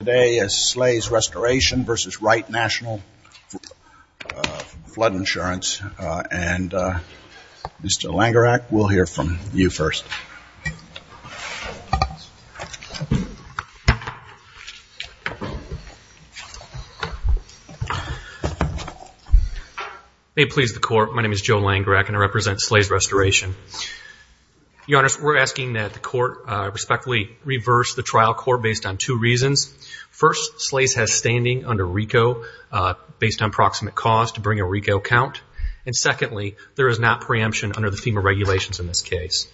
Today is Slay's Restoration versus Wright National Flood Insurance, and Mr. Langerak, we'll hear from you first. May it please the court, my name is Joe Langerak and I represent Slay's Restoration. Your Honor, we're asking that the court respectfully reverse the trial court based on two reasons. First, Slay's has standing under RICO based on proximate cause to bring a RICO count. And secondly, there is not preemption under the FEMA regulations in this case.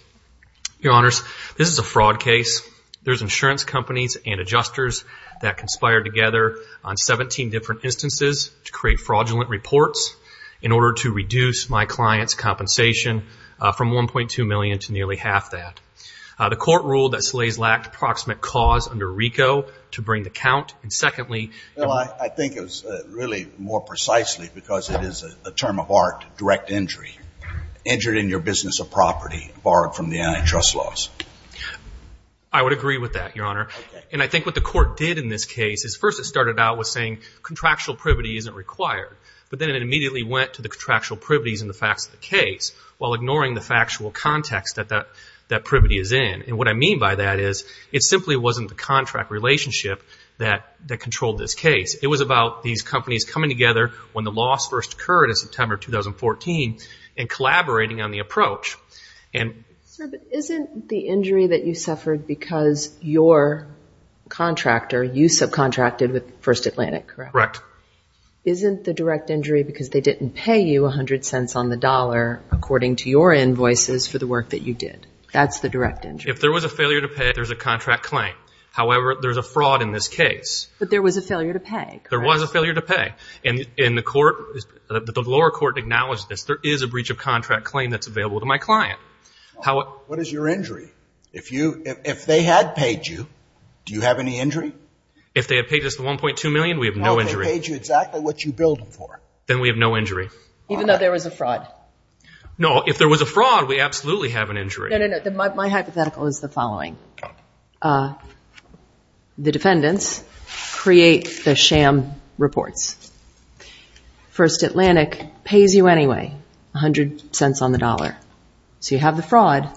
Your Honors, this is a fraud case. There's insurance companies and adjusters that conspired together on 17 different instances to create fraudulent reports in order to reduce my client's compensation from $1.2 million to nearly half that. The court ruled that Slay's lacked proximate cause under RICO to bring the count. And secondly- Well, I think it was really more precisely because it is a term of art, direct injury. Injured in your business of property borrowed from the antitrust laws. I would agree with that, Your Honor. And I think what the court did in this case is first it started out with saying contractual privity isn't required. But then it immediately went to the contractual privities and the facts of the case while ignoring the factual context that that privity is in. And what I mean by that is it simply wasn't the contract relationship that controlled this case. It was about these companies coming together when the loss first occurred in September 2014 and collaborating on the approach. Sir, but isn't the injury that you suffered because your contractor, you subcontracted with First Atlantic, correct? Correct. Isn't the direct injury because they didn't pay you 100 cents on the dollar according to your invoices for the work that you did? That's the direct injury. If there was a failure to pay, there's a contract claim. However, there's a fraud in this case. But there was a failure to pay, correct? There was a failure to pay. And the lower court acknowledged this. There is a breach of contract claim that's available to my client. What is your injury? If they had paid you, do you have any injury? If they had paid us the $1.2 million, we have no injury. Oh, they paid you exactly what you billed them for. Then we have no injury. Even though there was a fraud? No, if there was a fraud, we absolutely have an injury. No, no, no. My hypothetical is the following. The defendants create the sham reports. First Atlantic pays you anyway 100 cents on the dollar. So you have the fraud,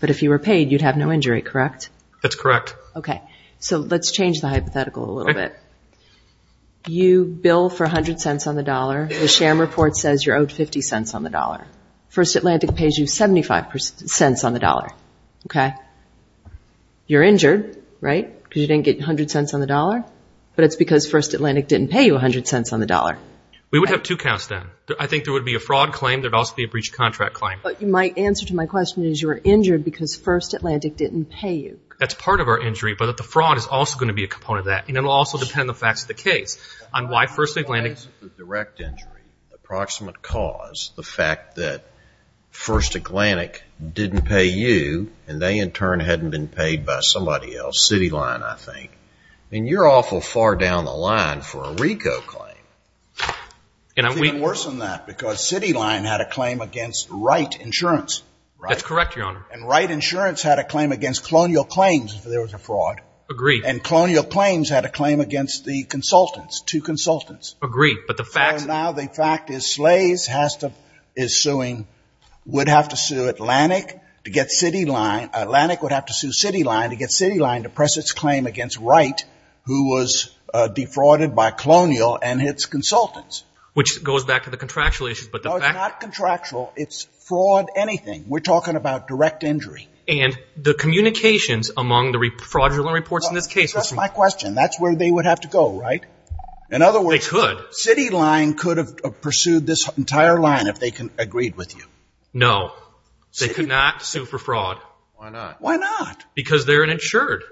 but if you were paid, you'd have no injury, correct? That's correct. Okay. So let's change the hypothetical a little bit. You bill for 100 cents on the dollar. The sham report says you're owed 50 cents on the dollar. First Atlantic pays you 75 cents on the dollar, okay? You're injured, right, because you didn't get 100 cents on the dollar? But it's because First Atlantic didn't pay you 100 cents on the dollar. We would have two counts then. I think there would be a fraud claim. There would also be a breach of contract claim. But my answer to my question is you were injured because First Atlantic didn't pay you. That's part of our injury. But the fraud is also going to be a component of that, and it will also depend on the facts of the case on why First Atlantic. The direct injury, the approximate cause, the fact that First Atlantic didn't pay you and they, in turn, hadn't been paid by somebody else, Cityline, I think. I mean, you're awful far down the line for a RICO claim. It's even worse than that because Cityline had a claim against Wright Insurance. That's correct, Your Honor. And Wright Insurance had a claim against Colonial Claims if there was a fraud. Agreed. And Colonial Claims had a claim against the consultants, two consultants. Agreed. So now the fact is Slays is suing, would have to sue Atlantic to get Cityline. Atlantic would have to sue Cityline to get Cityline to press its claim against Wright, who was defrauded by Colonial and its consultants. Which goes back to the contractual issues. No, it's not contractual. It's fraud anything. We're talking about direct injury. And the communications among the fraudulent reports in this case. That's my question. That's where they would have to go, right? In other words. They could. Cityline could have pursued this entire line if they agreed with you. No. They could not sue for fraud. Why not? Why not? Because they're an insured.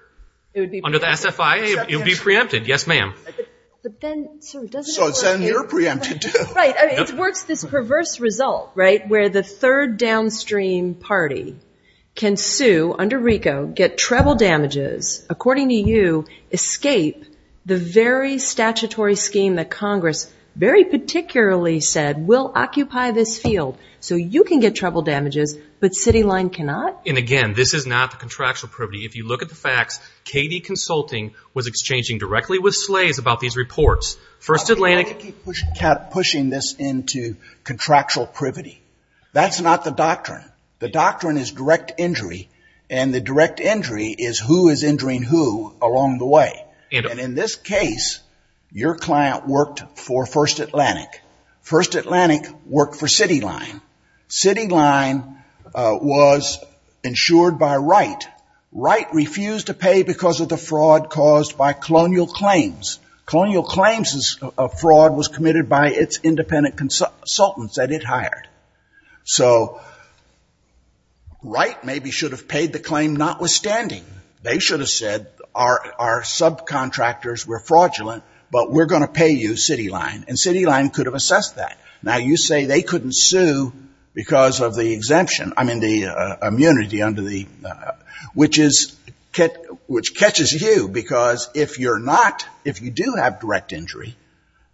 Under the SFIA, it would be preempted. Yes, ma'am. But then, sir, doesn't it work here? So then you're preempted, too. Right. It works this perverse result, right, where the third downstream party can sue, under RICO, get treble damages, according to you, escape the very statutory scheme that Congress very particularly said will occupy this field. So you can get treble damages, but Cityline cannot? And, again, this is not the contractual privity. If you look at the facts, KD Consulting was exchanging directly with Slays about these reports. You keep pushing this into contractual privity. That's not the doctrine. The doctrine is direct injury, and the direct injury is who is injuring who along the way. And in this case, your client worked for First Atlantic. First Atlantic worked for Cityline. Cityline was insured by Wright. Wright refused to pay because of the fraud caused by colonial claims. Colonial claims of fraud was committed by its independent consultants that it hired. So Wright maybe should have paid the claim notwithstanding. They should have said, our subcontractors were fraudulent, but we're going to pay you, Cityline. And Cityline could have assessed that. Now, you say they couldn't sue because of the exemption, I mean, the immunity, which catches you because if you're not, if you do have direct injury,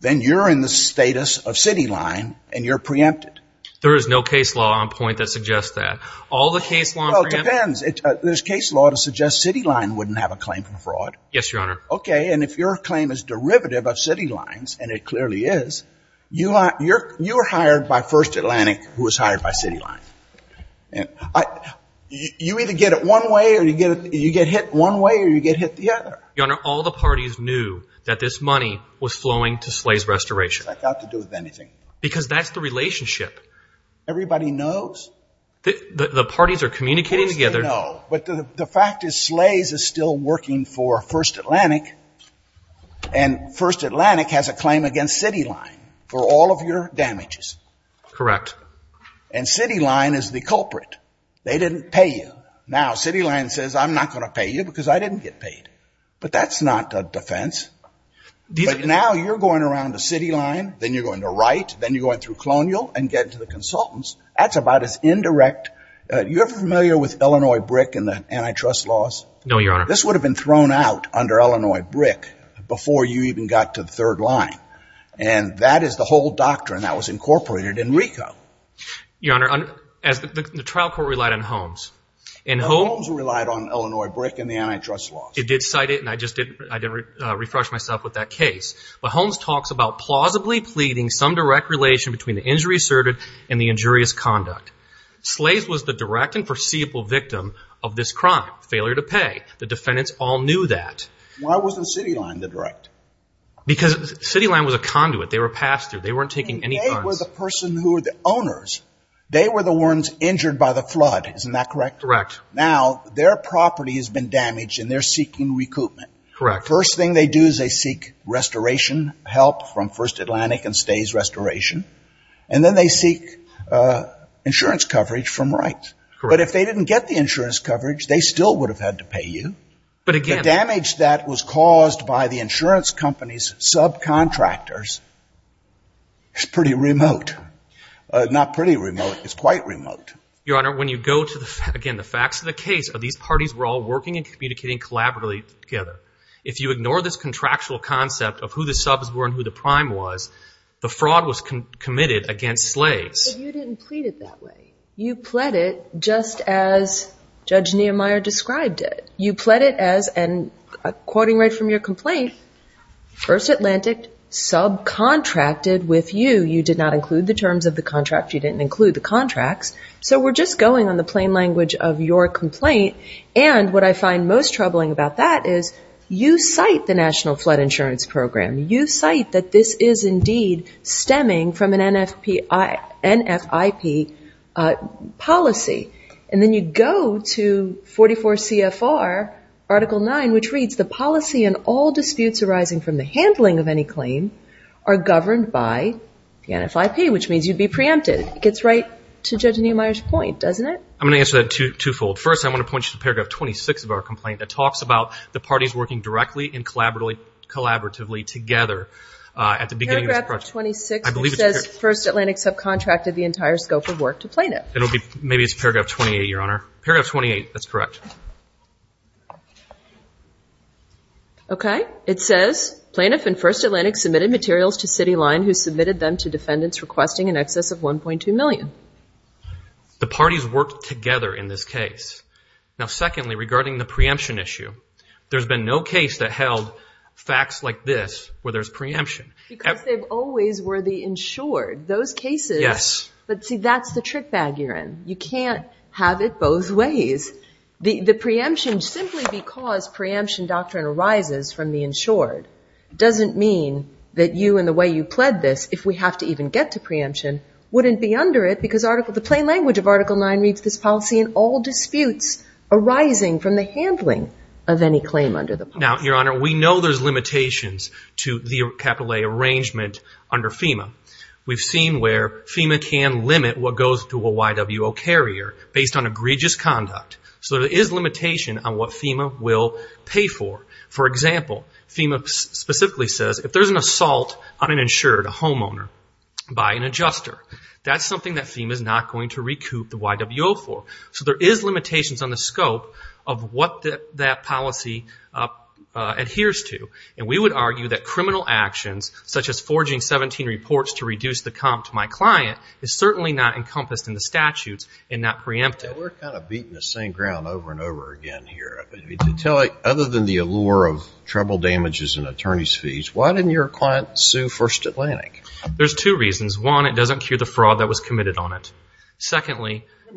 then you're in the status of Cityline and you're preempted. There is no case law on point that suggests that. All the case law on preempted. Well, it depends. There's case law to suggest Cityline wouldn't have a claim for fraud. Yes, Your Honor. Okay, and if your claim is derivative of Cityline's, and it clearly is, you were hired by First Atlantic who was hired by Cityline. You either get it one way or you get hit one way or you get hit the other. Your Honor, all the parties knew that this money was flowing to Slays Restoration. It's not got to do with anything. Because that's the relationship. Everybody knows. The parties are communicating together. Everybody knows. But the fact is Slays is still working for First Atlantic, and First Atlantic has a claim against Cityline for all of your damages. Correct. And Cityline is the culprit. They didn't pay you. Now, Cityline says, I'm not going to pay you because I didn't get paid. But that's not a defense. But now you're going around the Cityline, then you're going to Wright, then you're going through Colonial and get to the consultants. That's about as indirect. You're familiar with Illinois BRIC and the antitrust laws? No, Your Honor. This would have been thrown out under Illinois BRIC before you even got to the third line. And that is the whole doctrine that was incorporated in RICO. Your Honor, the trial court relied on Holmes. Holmes relied on Illinois BRIC and the antitrust laws. It did cite it, and I just did refresh myself with that case. But Holmes talks about plausibly pleading some direct relation between the injury asserted and the injurious conduct. Slays was the direct and foreseeable victim of this crime, failure to pay. The defendants all knew that. Why wasn't Cityline the direct? Because Cityline was a conduit. They were passed through. They weren't taking any funds. They were the person who were the owners. They were the ones injured by the flood. Isn't that correct? Correct. Now their property has been damaged and they're seeking recoupment. Correct. First thing they do is they seek restoration help from First Atlantic and stays restoration. And then they seek insurance coverage from Wright. But if they didn't get the insurance coverage, they still would have had to pay you. The damage that was caused by the insurance company's subcontractors is pretty remote. Not pretty remote. It's quite remote. Your Honor, when you go to the facts of the case, these parties were all working and communicating collaboratively together. If you ignore this contractual concept of who the subs were and who the prime was, the fraud was committed against Slays. But you didn't plead it that way. You pled it just as Judge Nehemiah described it. You pled it as, and quoting right from your complaint, First Atlantic subcontracted with you. You did not include the terms of the contract. You didn't include the contracts. So we're just going on the plain language of your complaint. And what I find most troubling about that is you cite the National Flood Insurance Program. You cite that this is indeed stemming from an NFIP policy. And then you go to 44 CFR Article 9, which reads the policy and all disputes arising from the handling of any claim are governed by the NFIP, which means you'd be preempted. It gets right to Judge Nehemiah's point, doesn't it? I'm going to answer that twofold. First, I want to point you to Paragraph 26 of our complaint that talks about the parties working directly and collaboratively together at the beginning of this project. Paragraph 26 says First Atlantic subcontracted the entire scope of work to plaintiff. Maybe it's Paragraph 28, Your Honor. Paragraph 28, that's correct. Okay. It says plaintiff and First Atlantic submitted materials to City Line who submitted them to defendants requesting in excess of $1.2 million. The parties worked together in this case. Now, secondly, regarding the preemption issue, there's been no case that held facts like this where there's preemption. Because they've always were the insured. Those cases. Yes. But, see, that's the trick bag you're in. You can't have it both ways. The preemption, simply because preemption doctrine arises from the insured, doesn't mean that you and the way you pled this, if we have to even get to preemption, wouldn't be under it because the plain language of Article 9 reads this policy and all disputes arising from the handling of any claim under the policy. Now, Your Honor, we know there's limitations to the capital A arrangement under FEMA. We've seen where FEMA can limit what goes to a YWO carrier based on egregious conduct. So there is limitation on what FEMA will pay for. For example, FEMA specifically says if there's an assault on an insured, a homeowner, by an adjuster, that's something that FEMA is not going to recoup the YWO for. So there is limitations on the scope of what that policy adheres to. And we would argue that criminal actions, such as forging 17 reports to reduce the comp to my client, is certainly not encompassed in the statutes and not preempted. We're kind of beating the same ground over and over again here. Other than the allure of treble damages and attorney's fees, why didn't your client sue First Atlantic? There's two reasons. One, it doesn't cure the fraud that was committed on it. Secondly, if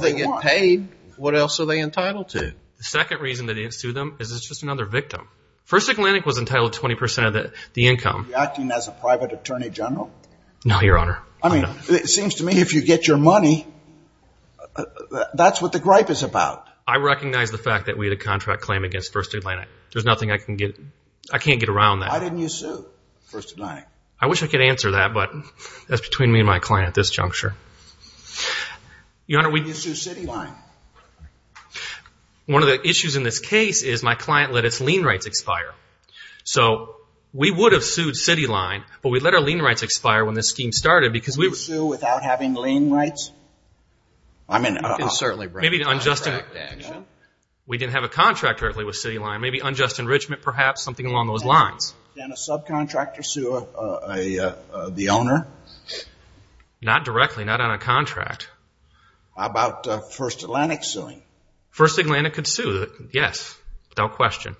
they get paid, what else are they entitled to? The second reason that they didn't sue them is it's just another victim. First Atlantic was entitled to 20% of the income. Were you acting as a private attorney general? No, Your Honor. I mean, it seems to me if you get your money, that's what the gripe is about. I recognize the fact that we had a contract claim against First Atlantic. There's nothing I can get around that. Why didn't you sue First Atlantic? I wish I could answer that, but that's between me and my client at this juncture. Why didn't you sue Cityline? One of the issues in this case is my client let its lien rights expire. So we would have sued Cityline, but we let our lien rights expire when this scheme started. You'd sue without having lien rights? I mean, I can certainly bring that up. We didn't have a contract directly with Cityline. Maybe unjust enrichment perhaps, something along those lines. Didn't a subcontractor sue the owner? Not directly, not on a contract. How about First Atlantic suing? First Atlantic could sue, yes, without question.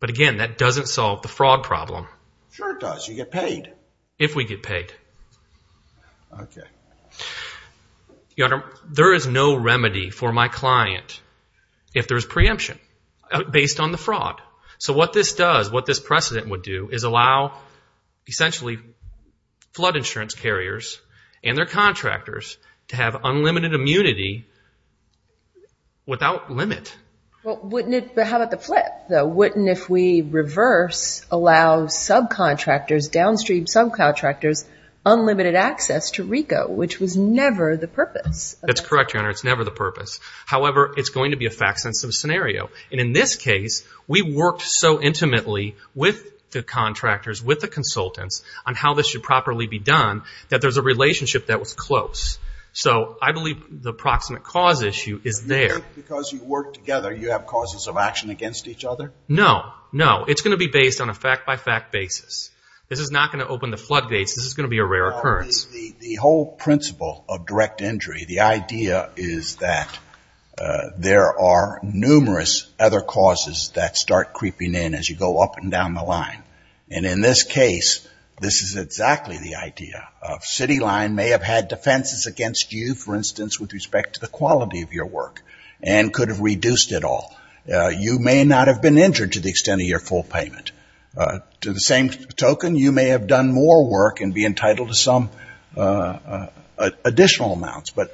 But again, that doesn't solve the fraud problem. Sure it does. You get paid. If we get paid. Okay. Your Honor, there is no remedy for my client if there's preemption based on the fraud. So what this does, what this precedent would do is allow essentially flood insurance carriers and their contractors to have unlimited immunity without limit. But how about the flip? Wouldn't if we reverse allow downstream subcontractors unlimited access to RICO, which was never the purpose? That's correct, Your Honor. It's never the purpose. However, it's going to be a fact-sensitive scenario. And in this case, we worked so intimately with the contractors, with the consultants, on how this should properly be done that there's a relationship that was close. So I believe the proximate cause issue is there. Because you work together, you have causes of action against each other? No, no. It's going to be based on a fact-by-fact basis. This is not going to open the floodgates. This is going to be a rare occurrence. The whole principle of direct injury, the idea is that there are numerous other causes that start creeping in as you go up and down the line. And in this case, this is exactly the idea. A city line may have had defenses against you, for instance, with respect to the quality of your work, and could have reduced it all. You may not have been injured to the extent of your full payment. To the same token, you may have done more work and be entitled to some additional amounts. But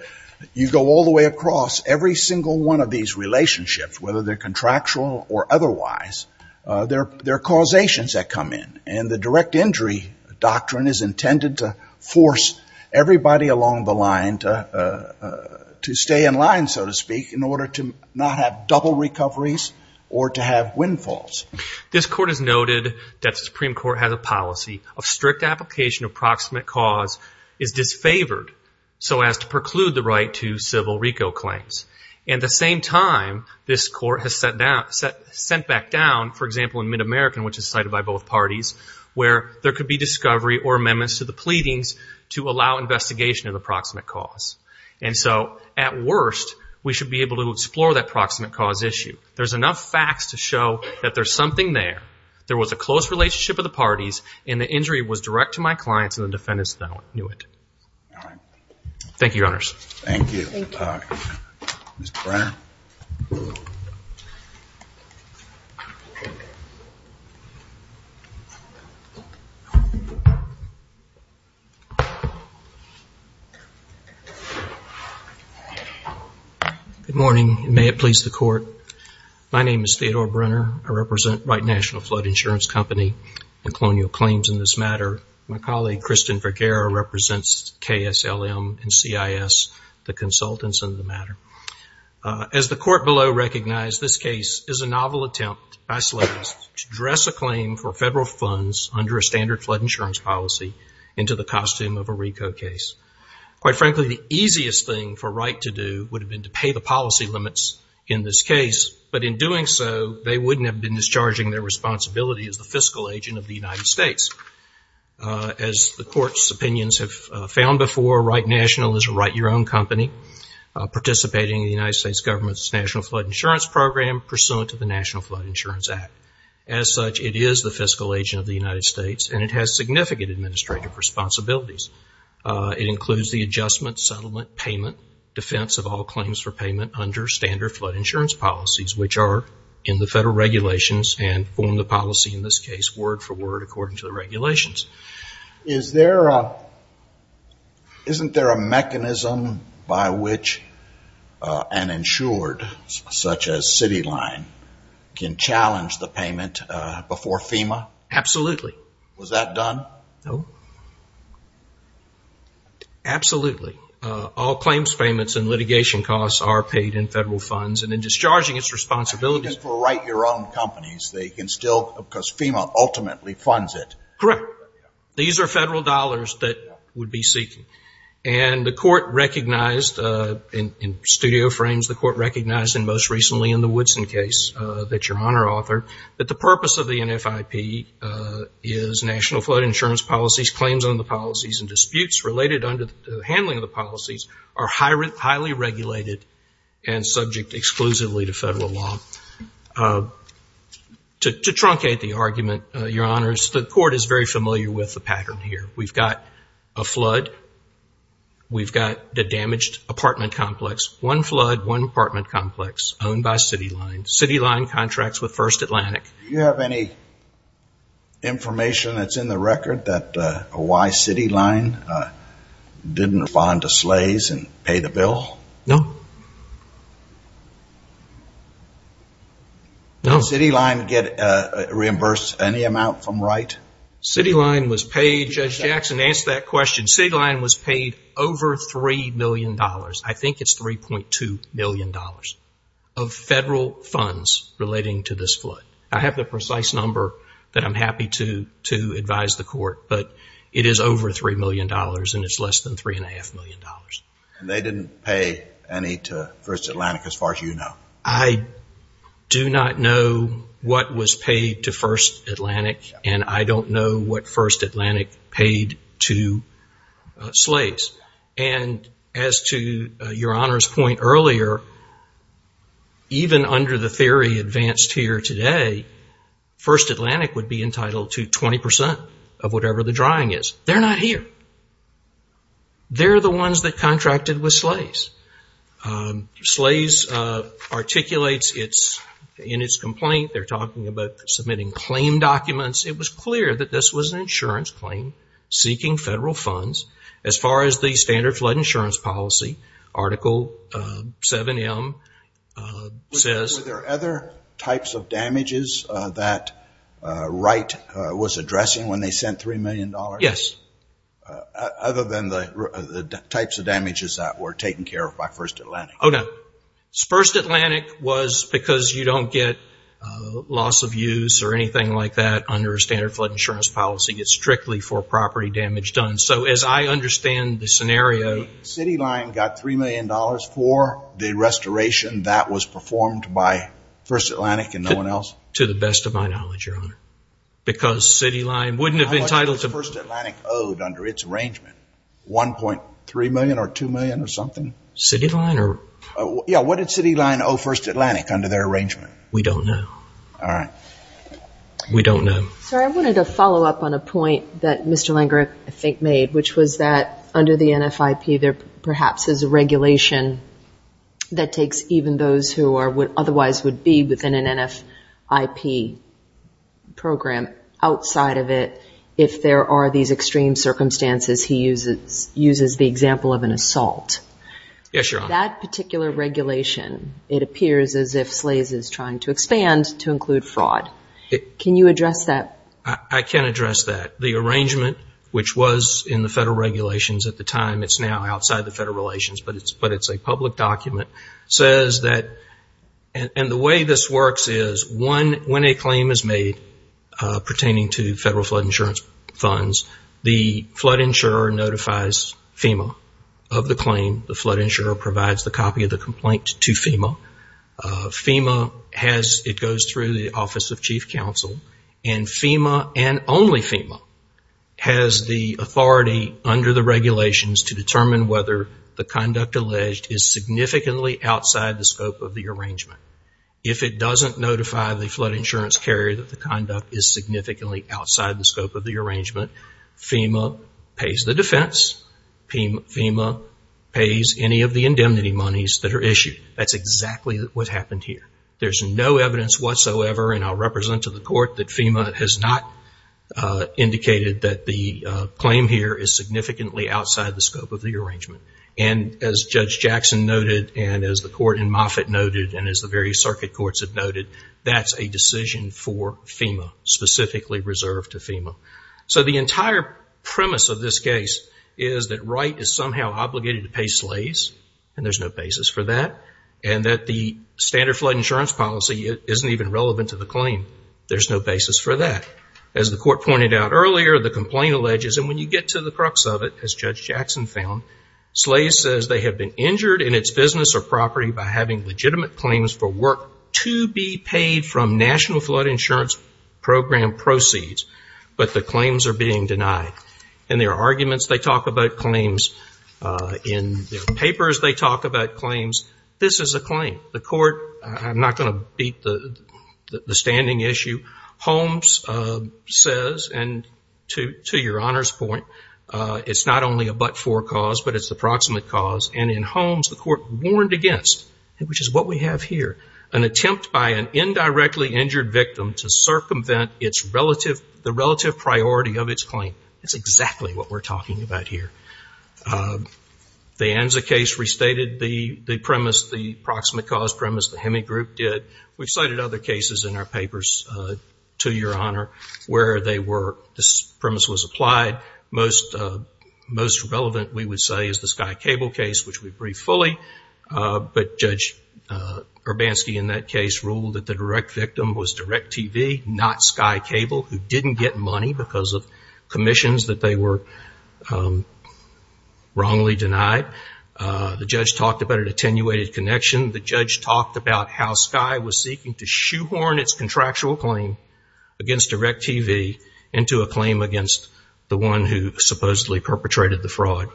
you go all the way across every single one of these relationships, whether they're contractual or otherwise, there are causations that come in. And the direct injury doctrine is intended to force everybody along the line to stay in line, so to speak, in order to not have double recoveries or to have windfalls. This Court has noted that the Supreme Court has a policy of strict application of proximate cause is disfavored so as to preclude the right to civil RICO claims. At the same time, this Court has sent back down, for example, in Mid-American, which is cited by both parties, where there could be discovery or amendments to the pleadings to allow investigation of the proximate cause. And so at worst, we should be able to explore that proximate cause issue. There's enough facts to show that there's something there. There was a close relationship of the parties, and the injury was direct to my clients and the defendants that knew it. Thank you, Your Honors. Thank you for talking. Mr. Brenner. Good morning, and may it please the Court. My name is Theodore Brenner. I represent Wright National Flood Insurance Company and colonial claims in this matter. My colleague, Kristen Vergara, represents KSLM and CIS, the consultants in the matter. As the Court below recognized, this case is a novel attempt by slaves to dress a claim for federal funds under a standard flood insurance policy into the costume of a RICO case. Quite frankly, the easiest thing for Wright to do would have been to pay the policy limits in this case, but in doing so, they wouldn't have been discharging their responsibility as the fiscal agent of the United States. As the Court's opinions have found before, Wright National is a write-your-own company participating in the United States government's National Flood Insurance Program pursuant to the National Flood Insurance Act. As such, it is the fiscal agent of the United States, and it has significant administrative responsibilities. It includes the adjustment, settlement, payment, defense of all claims for payment under standard flood insurance policies, which are in the federal regulations and form the policy in this case word for word according to the regulations. Isn't there a mechanism by which an insured, such as Cityline, can challenge the payment before FEMA? Absolutely. Was that done? No. Absolutely. All claims payments and litigation costs are paid in federal funds, and in discharging its responsibilities Even for write-your-own companies, they can still, because FEMA ultimately funds it. Correct. These are federal dollars that would be seeking. And the Court recognized, in studio frames, the Court recognized, and most recently in the Woodson case that your Honor authored, that the purpose of the NFIP is national flood insurance policies. Claims on the policies and disputes related under the handling of the policies are highly regulated and subject exclusively to federal law. To truncate the argument, your Honors, the Court is very familiar with the pattern here. We've got a flood. We've got the damaged apartment complex. One flood, one apartment complex owned by Cityline. Cityline contracts with First Atlantic. Do you have any information that's in the record that why Cityline didn't respond to SLAYS and pay the bill? No. Did Cityline reimburse any amount from write? Cityline was paid, Judge Jackson, answer that question. Cityline was paid over $3 million. I think it's $3.2 million of federal funds relating to this flood. I have the precise number that I'm happy to advise the Court, but it is over $3 million and it's less than $3.5 million. And they didn't pay any to First Atlantic as far as you know? I do not know what was paid to First Atlantic and I don't know what First Atlantic paid to SLAYS. And as to your Honor's point earlier, even under the theory advanced here today, First Atlantic would be entitled to 20% of whatever the drawing is. They're not here. They're the ones that contracted with SLAYS. SLAYS articulates in its complaint, they're talking about submitting claim documents. It was clear that this was an insurance claim seeking federal funds. As far as the standard flood insurance policy, Article 7M says- Were there other types of damages that write was addressing when they sent $3 million? Yes. Other than the types of damages that were taken care of by First Atlantic? Oh, no. First Atlantic was because you don't get loss of use or anything like that under a standard flood insurance policy. It's strictly for property damage done. So as I understand the scenario- City Line got $3 million for the restoration that was performed by First Atlantic and no one else? To the best of my knowledge, Your Honor. Because City Line wouldn't have been entitled to- How much did First Atlantic owe under its arrangement? $1.3 million or $2 million or something? City Line or- Yeah, what did City Line owe First Atlantic under their arrangement? We don't know. All right. We don't know. Sir, I wanted to follow up on a point that Mr. Langer, I think, made, which was that under the NFIP there perhaps is a regulation that takes even those who otherwise would be within an NFIP program. Outside of it, if there are these extreme circumstances, he uses the example of an assault. Yes, Your Honor. That particular regulation, it appears as if SLAES is trying to expand to include fraud. Can you address that? I can address that. The arrangement, which was in the federal regulations at the time, it's now outside the federal regulations, but it's a public document, says that- and the way this works is when a claim is made pertaining to federal flood insurance funds, the flood insurer notifies FEMA of the claim. The flood insurer provides the copy of the complaint to FEMA. FEMA, it goes through the Office of Chief Counsel, and FEMA and only FEMA has the authority under the regulations to determine whether the conduct alleged is significantly outside the scope of the arrangement. If it doesn't notify the flood insurance carrier that the conduct is significantly outside the scope of the arrangement, FEMA pays the defense. FEMA pays any of the indemnity monies that are issued. That's exactly what happened here. There's no evidence whatsoever, and I'll represent to the court, that FEMA has not indicated that the claim here is significantly outside the scope of the arrangement. And as Judge Jackson noted, and as the court in Moffitt noted, and as the various circuit courts have noted, that's a decision for FEMA, specifically reserved to FEMA. So the entire premise of this case is that Wright is somehow obligated to pay SLAES, and there's no basis for that, and that the standard flood insurance policy isn't even relevant to the claim. There's no basis for that. As the court pointed out earlier, the complaint alleges, and when you get to the crux of it, as Judge Jackson found, SLAES says they have been injured in its business or property by having legitimate claims for work to be paid from National Flood Insurance Program proceeds, but the claims are being denied. In their arguments, they talk about claims. In their papers, they talk about claims. This is a claim. The court, I'm not going to beat the standing issue, Holmes says, and to your Honor's point, it's not only a but-for cause, but it's the proximate cause. And in Holmes, the court warned against, which is what we have here, an attempt by an indirectly injured victim to circumvent the relative priority of its claim. That's exactly what we're talking about here. The Anza case restated the premise, the proximate cause premise. The Heming Group did. We cited other cases in our papers to your Honor where this premise was applied. Most relevant, we would say, is the Sky Cable case, which we briefed fully. But Judge Urbanski in that case ruled that the direct victim was DirecTV, not Sky Cable, who didn't get money because of commissions that they were wrongly denied. The judge talked about an attenuated connection. The judge talked about how Sky was seeking to shoehorn its contractual claim against DirecTV into a claim against the one who supposedly perpetrated the fraud.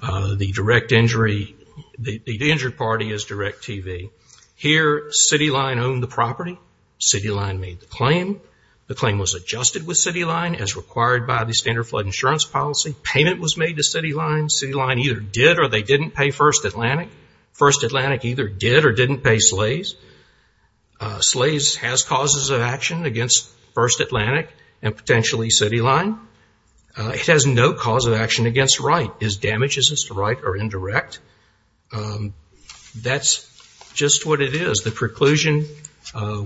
The direct injury, the injured party is DirecTV. Here, CityLine owned the property. CityLine made the claim. The claim was adjusted with CityLine as required by the standard flood insurance policy. Payment was made to CityLine. CityLine either did or they didn't pay First Atlantic. First Atlantic either did or didn't pay Slays. Slays has causes of action against First Atlantic and potentially CityLine. It has no cause of action against Wright. Its damage isn't to Wright or indirect. That's just what it is. The preclusion,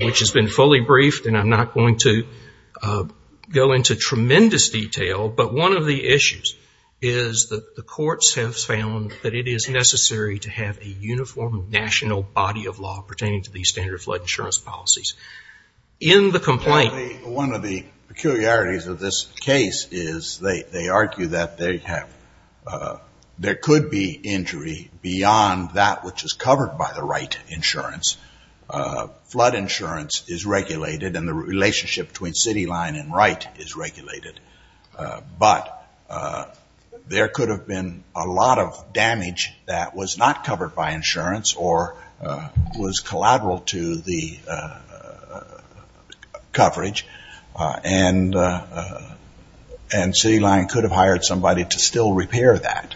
which has been fully briefed, and I'm not going to go into tremendous detail, but one of the issues is that the courts have found that it is necessary to have a uniform national body of law pertaining to these standard flood insurance policies. In the complaint. One of the peculiarities of this case is they argue that there could be injury beyond that which is covered by the Wright insurance. Flood insurance is regulated and the relationship between CityLine and Wright is regulated. But there could have been a lot of damage that was not covered by insurance or was collateral to the coverage, and CityLine could have hired somebody to still repair that.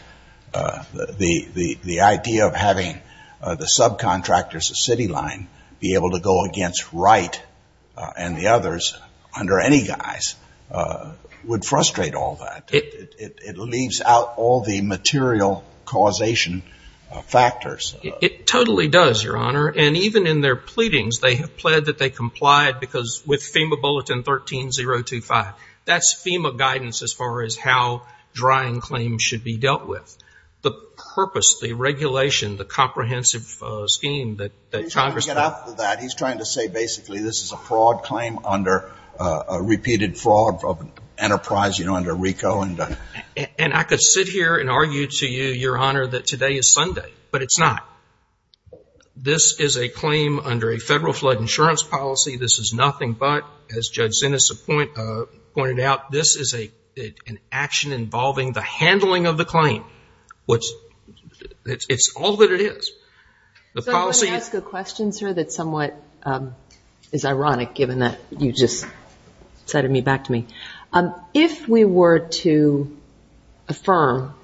The idea of having the subcontractors of CityLine be able to go against Wright and the others under any guise would frustrate all that. It leaves out all the material causation factors. It totally does, Your Honor. And even in their pleadings, they have pled that they complied because with FEMA Bulletin 13-025, that's FEMA guidance as far as how drying claims should be dealt with. The purpose, the regulation, the comprehensive scheme that Congress. He's trying to get after that. He's trying to say basically this is a fraud claim under a repeated fraud enterprise, you know, under RICO. And I could sit here and argue to you, Your Honor, that today is Sunday, but it's not. This is a claim under a federal flood insurance policy. This is nothing but, as Judge Zinus pointed out, this is an action involving the handling of the claim. It's all that it is. So I'm going to ask a question, sir, that somewhat is ironic given that you just cited me back to me. If we were to affirm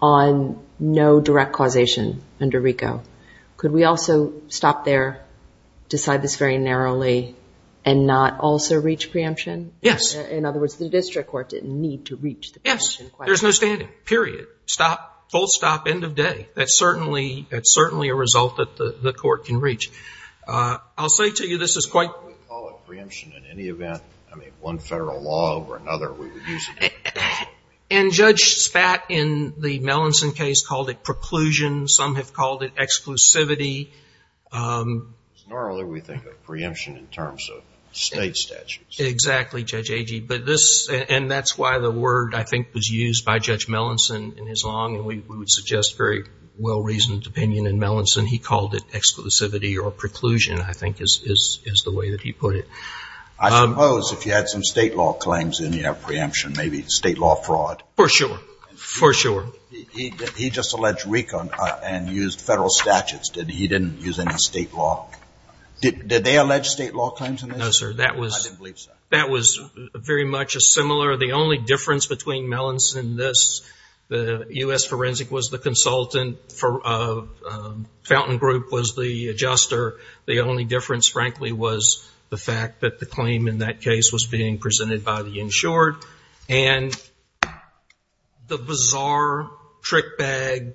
on no direct causation under RICO, could we also stop there, decide this very narrowly, and not also reach preemption? Yes. In other words, the district court didn't need to reach the preemption question. Yes. There's no standing. Period. Stop. Full stop. End of day. That's certainly a result that the court can reach. I'll say to you this is quite. We call it preemption in any event. I mean, one federal law over another, we would use it. And Judge Spat in the Melanson case called it preclusion. Some have called it exclusivity. Nor other we think of preemption in terms of state statutes. Exactly, Judge Agee. And that's why the word, I think, was used by Judge Melanson in his law. And we would suggest very well-reasoned opinion in Melanson. He called it exclusivity or preclusion, I think, is the way that he put it. I suppose if you had some state law claims, then you have preemption. Maybe state law fraud. For sure. For sure. He just alleged recon and used federal statutes. He didn't use any state law. Did they allege state law claims in this? No, sir. I didn't believe so. That was very much a similar. The only difference between Melanson and this, the U.S. Forensic was the consultant. Fountain Group was the adjuster. The only difference, frankly, was the fact that the claim in that case was being presented by the insured. And the bizarre trick bag,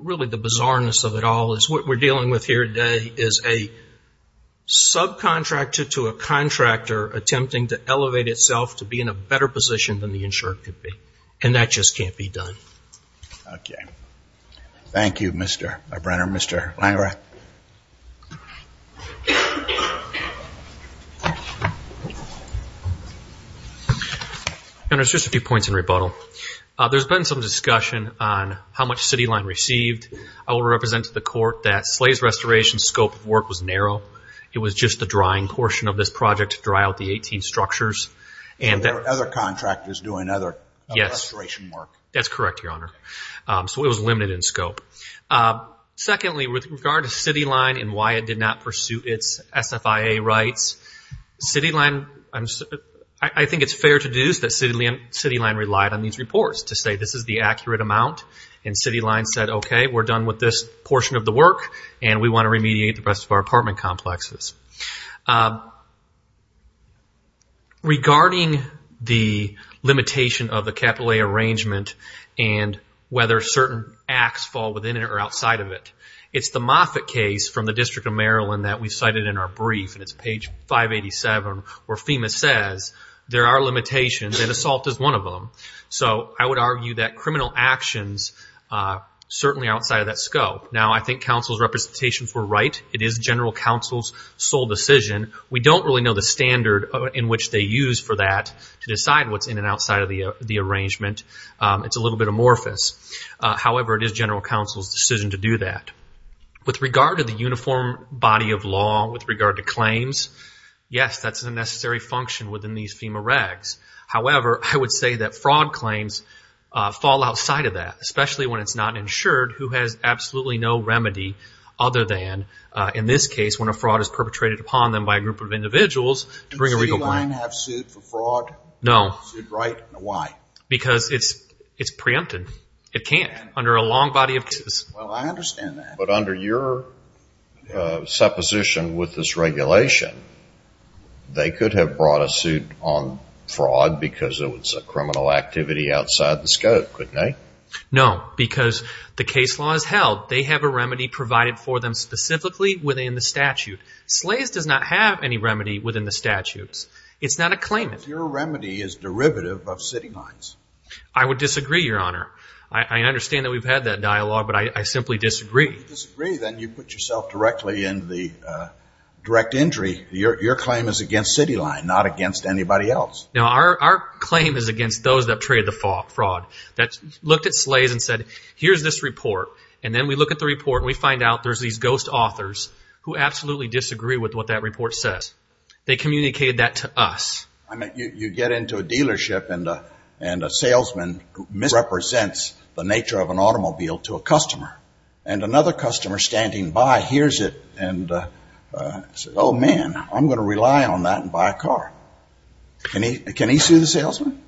really the bizarreness of it all, is what we're dealing with here today is a subcontractor to a contractor attempting to elevate itself to be in a better position than the insured could be. And that just can't be done. Okay. Thank you, Mr. Brenner. Mr. Langreth. Your Honor, just a few points in rebuttal. There's been some discussion on how much City Line received. I will represent to the court that Slays Restoration's scope of work was narrow. It was just the drying portion of this project to dry out the 18 structures. And there were other contractors doing other restoration work. Yes. That's correct, Your Honor. So it was limited in scope. Secondly, with regard to City Line and why it did not pursue its SFIA rights, I think it's fair to deduce that City Line relied on these reports to say this is the accurate amount. And City Line said, okay, we're done with this portion of the work, and we want to remediate the rest of our apartment complexes. Regarding the limitation of the capital A arrangement and whether certain acts fall within it or outside of it, it's the Moffitt case from the District of Maryland that we cited in our brief, and it's page 587, where FEMA says there are limitations, and assault is one of them. So I would argue that criminal actions are certainly outside of that scope. Now, I think counsel's representations were right. It is general counsel's sole decision. We don't really know the standard in which they use for that to decide what's in and outside of the arrangement. It's a little bit amorphous. However, it is general counsel's decision to do that. With regard to the uniform body of law, with regard to claims, yes, that's a necessary function within these FEMA regs. However, I would say that fraud claims fall outside of that, especially when it's not insured, who has absolutely no remedy other than, in this case, when a fraud is perpetrated upon them by a group of individuals, to bring a regal line. Does the city line have suit for fraud? No. Is it right? Why? Because it's preempted. It can't under a long body of cases. Well, I understand that. But under your supposition with this regulation, they could have brought a suit on fraud because it was a criminal activity outside the scope, couldn't they? No, because the case law is held. They have a remedy provided for them specifically within the statute. SLAES does not have any remedy within the statutes. It's not a claimant. But your remedy is derivative of city lines. I would disagree, Your Honor. I understand that we've had that dialogue, but I simply disagree. If you disagree, then you put yourself directly in the direct injury. Your claim is against city line, not against anybody else. No, our claim is against those that have traded the fraud. That looked at SLAES and said, here's this report. And then we look at the report and we find out there's these ghost authors who absolutely disagree with what that report says. They communicated that to us. You get into a dealership and a salesman misrepresents the nature of an automobile to a customer. And another customer standing by hears it and says, oh, man, I'm going to rely on that and buy a car. Can he sue the salesman?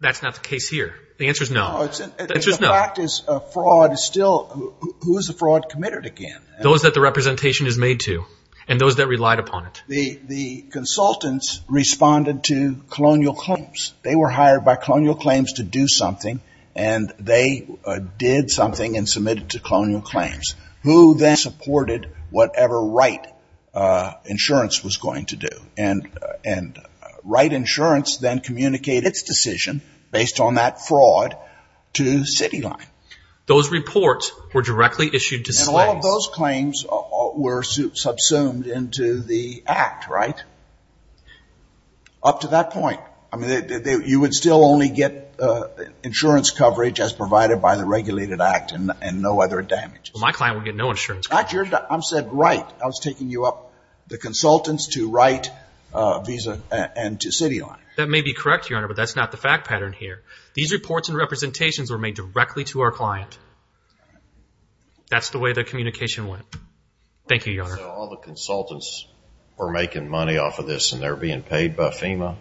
That's not the case here. The answer is no. The answer is no. The fact is fraud is still who is the fraud committed against? Those that the representation is made to and those that relied upon it. The consultants responded to colonial claims. They were hired by colonial claims to do something, and they did something and submitted to colonial claims. Who then supported whatever Wright Insurance was going to do? And Wright Insurance then communicated its decision based on that fraud to Cityline. Those reports were directly issued to SLAES. And all of those claims were subsumed into the Act, right? Up to that point. I mean, you would still only get insurance coverage as provided by the regulated Act and no other damages. My client would get no insurance coverage. I was taking you up the consultants to Wright Visa and to Cityline. That may be correct, Your Honor, but that's not the fact pattern here. These reports and representations were made directly to our client. That's the way the communication went. Thank you, Your Honor. So all the consultants were making money off of this, and they're being paid by FEMA?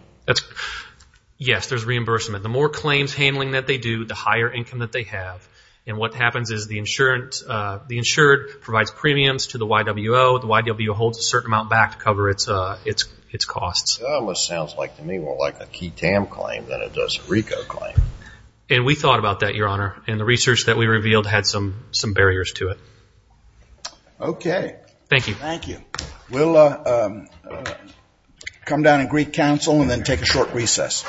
Yes, there's reimbursement. The more claims handling that they do, the higher income that they have. And what happens is the insured provides premiums to the YWO. The YWO holds a certain amount back to cover its costs. That almost sounds like to me more like a Ketam claim than it does a RICO claim. And we thought about that, Your Honor, and the research that we revealed had some barriers to it. Okay. Thank you. Thank you. We'll come down and greet counsel and then take a short recess.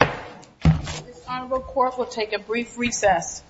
This honorable court will take a brief recess.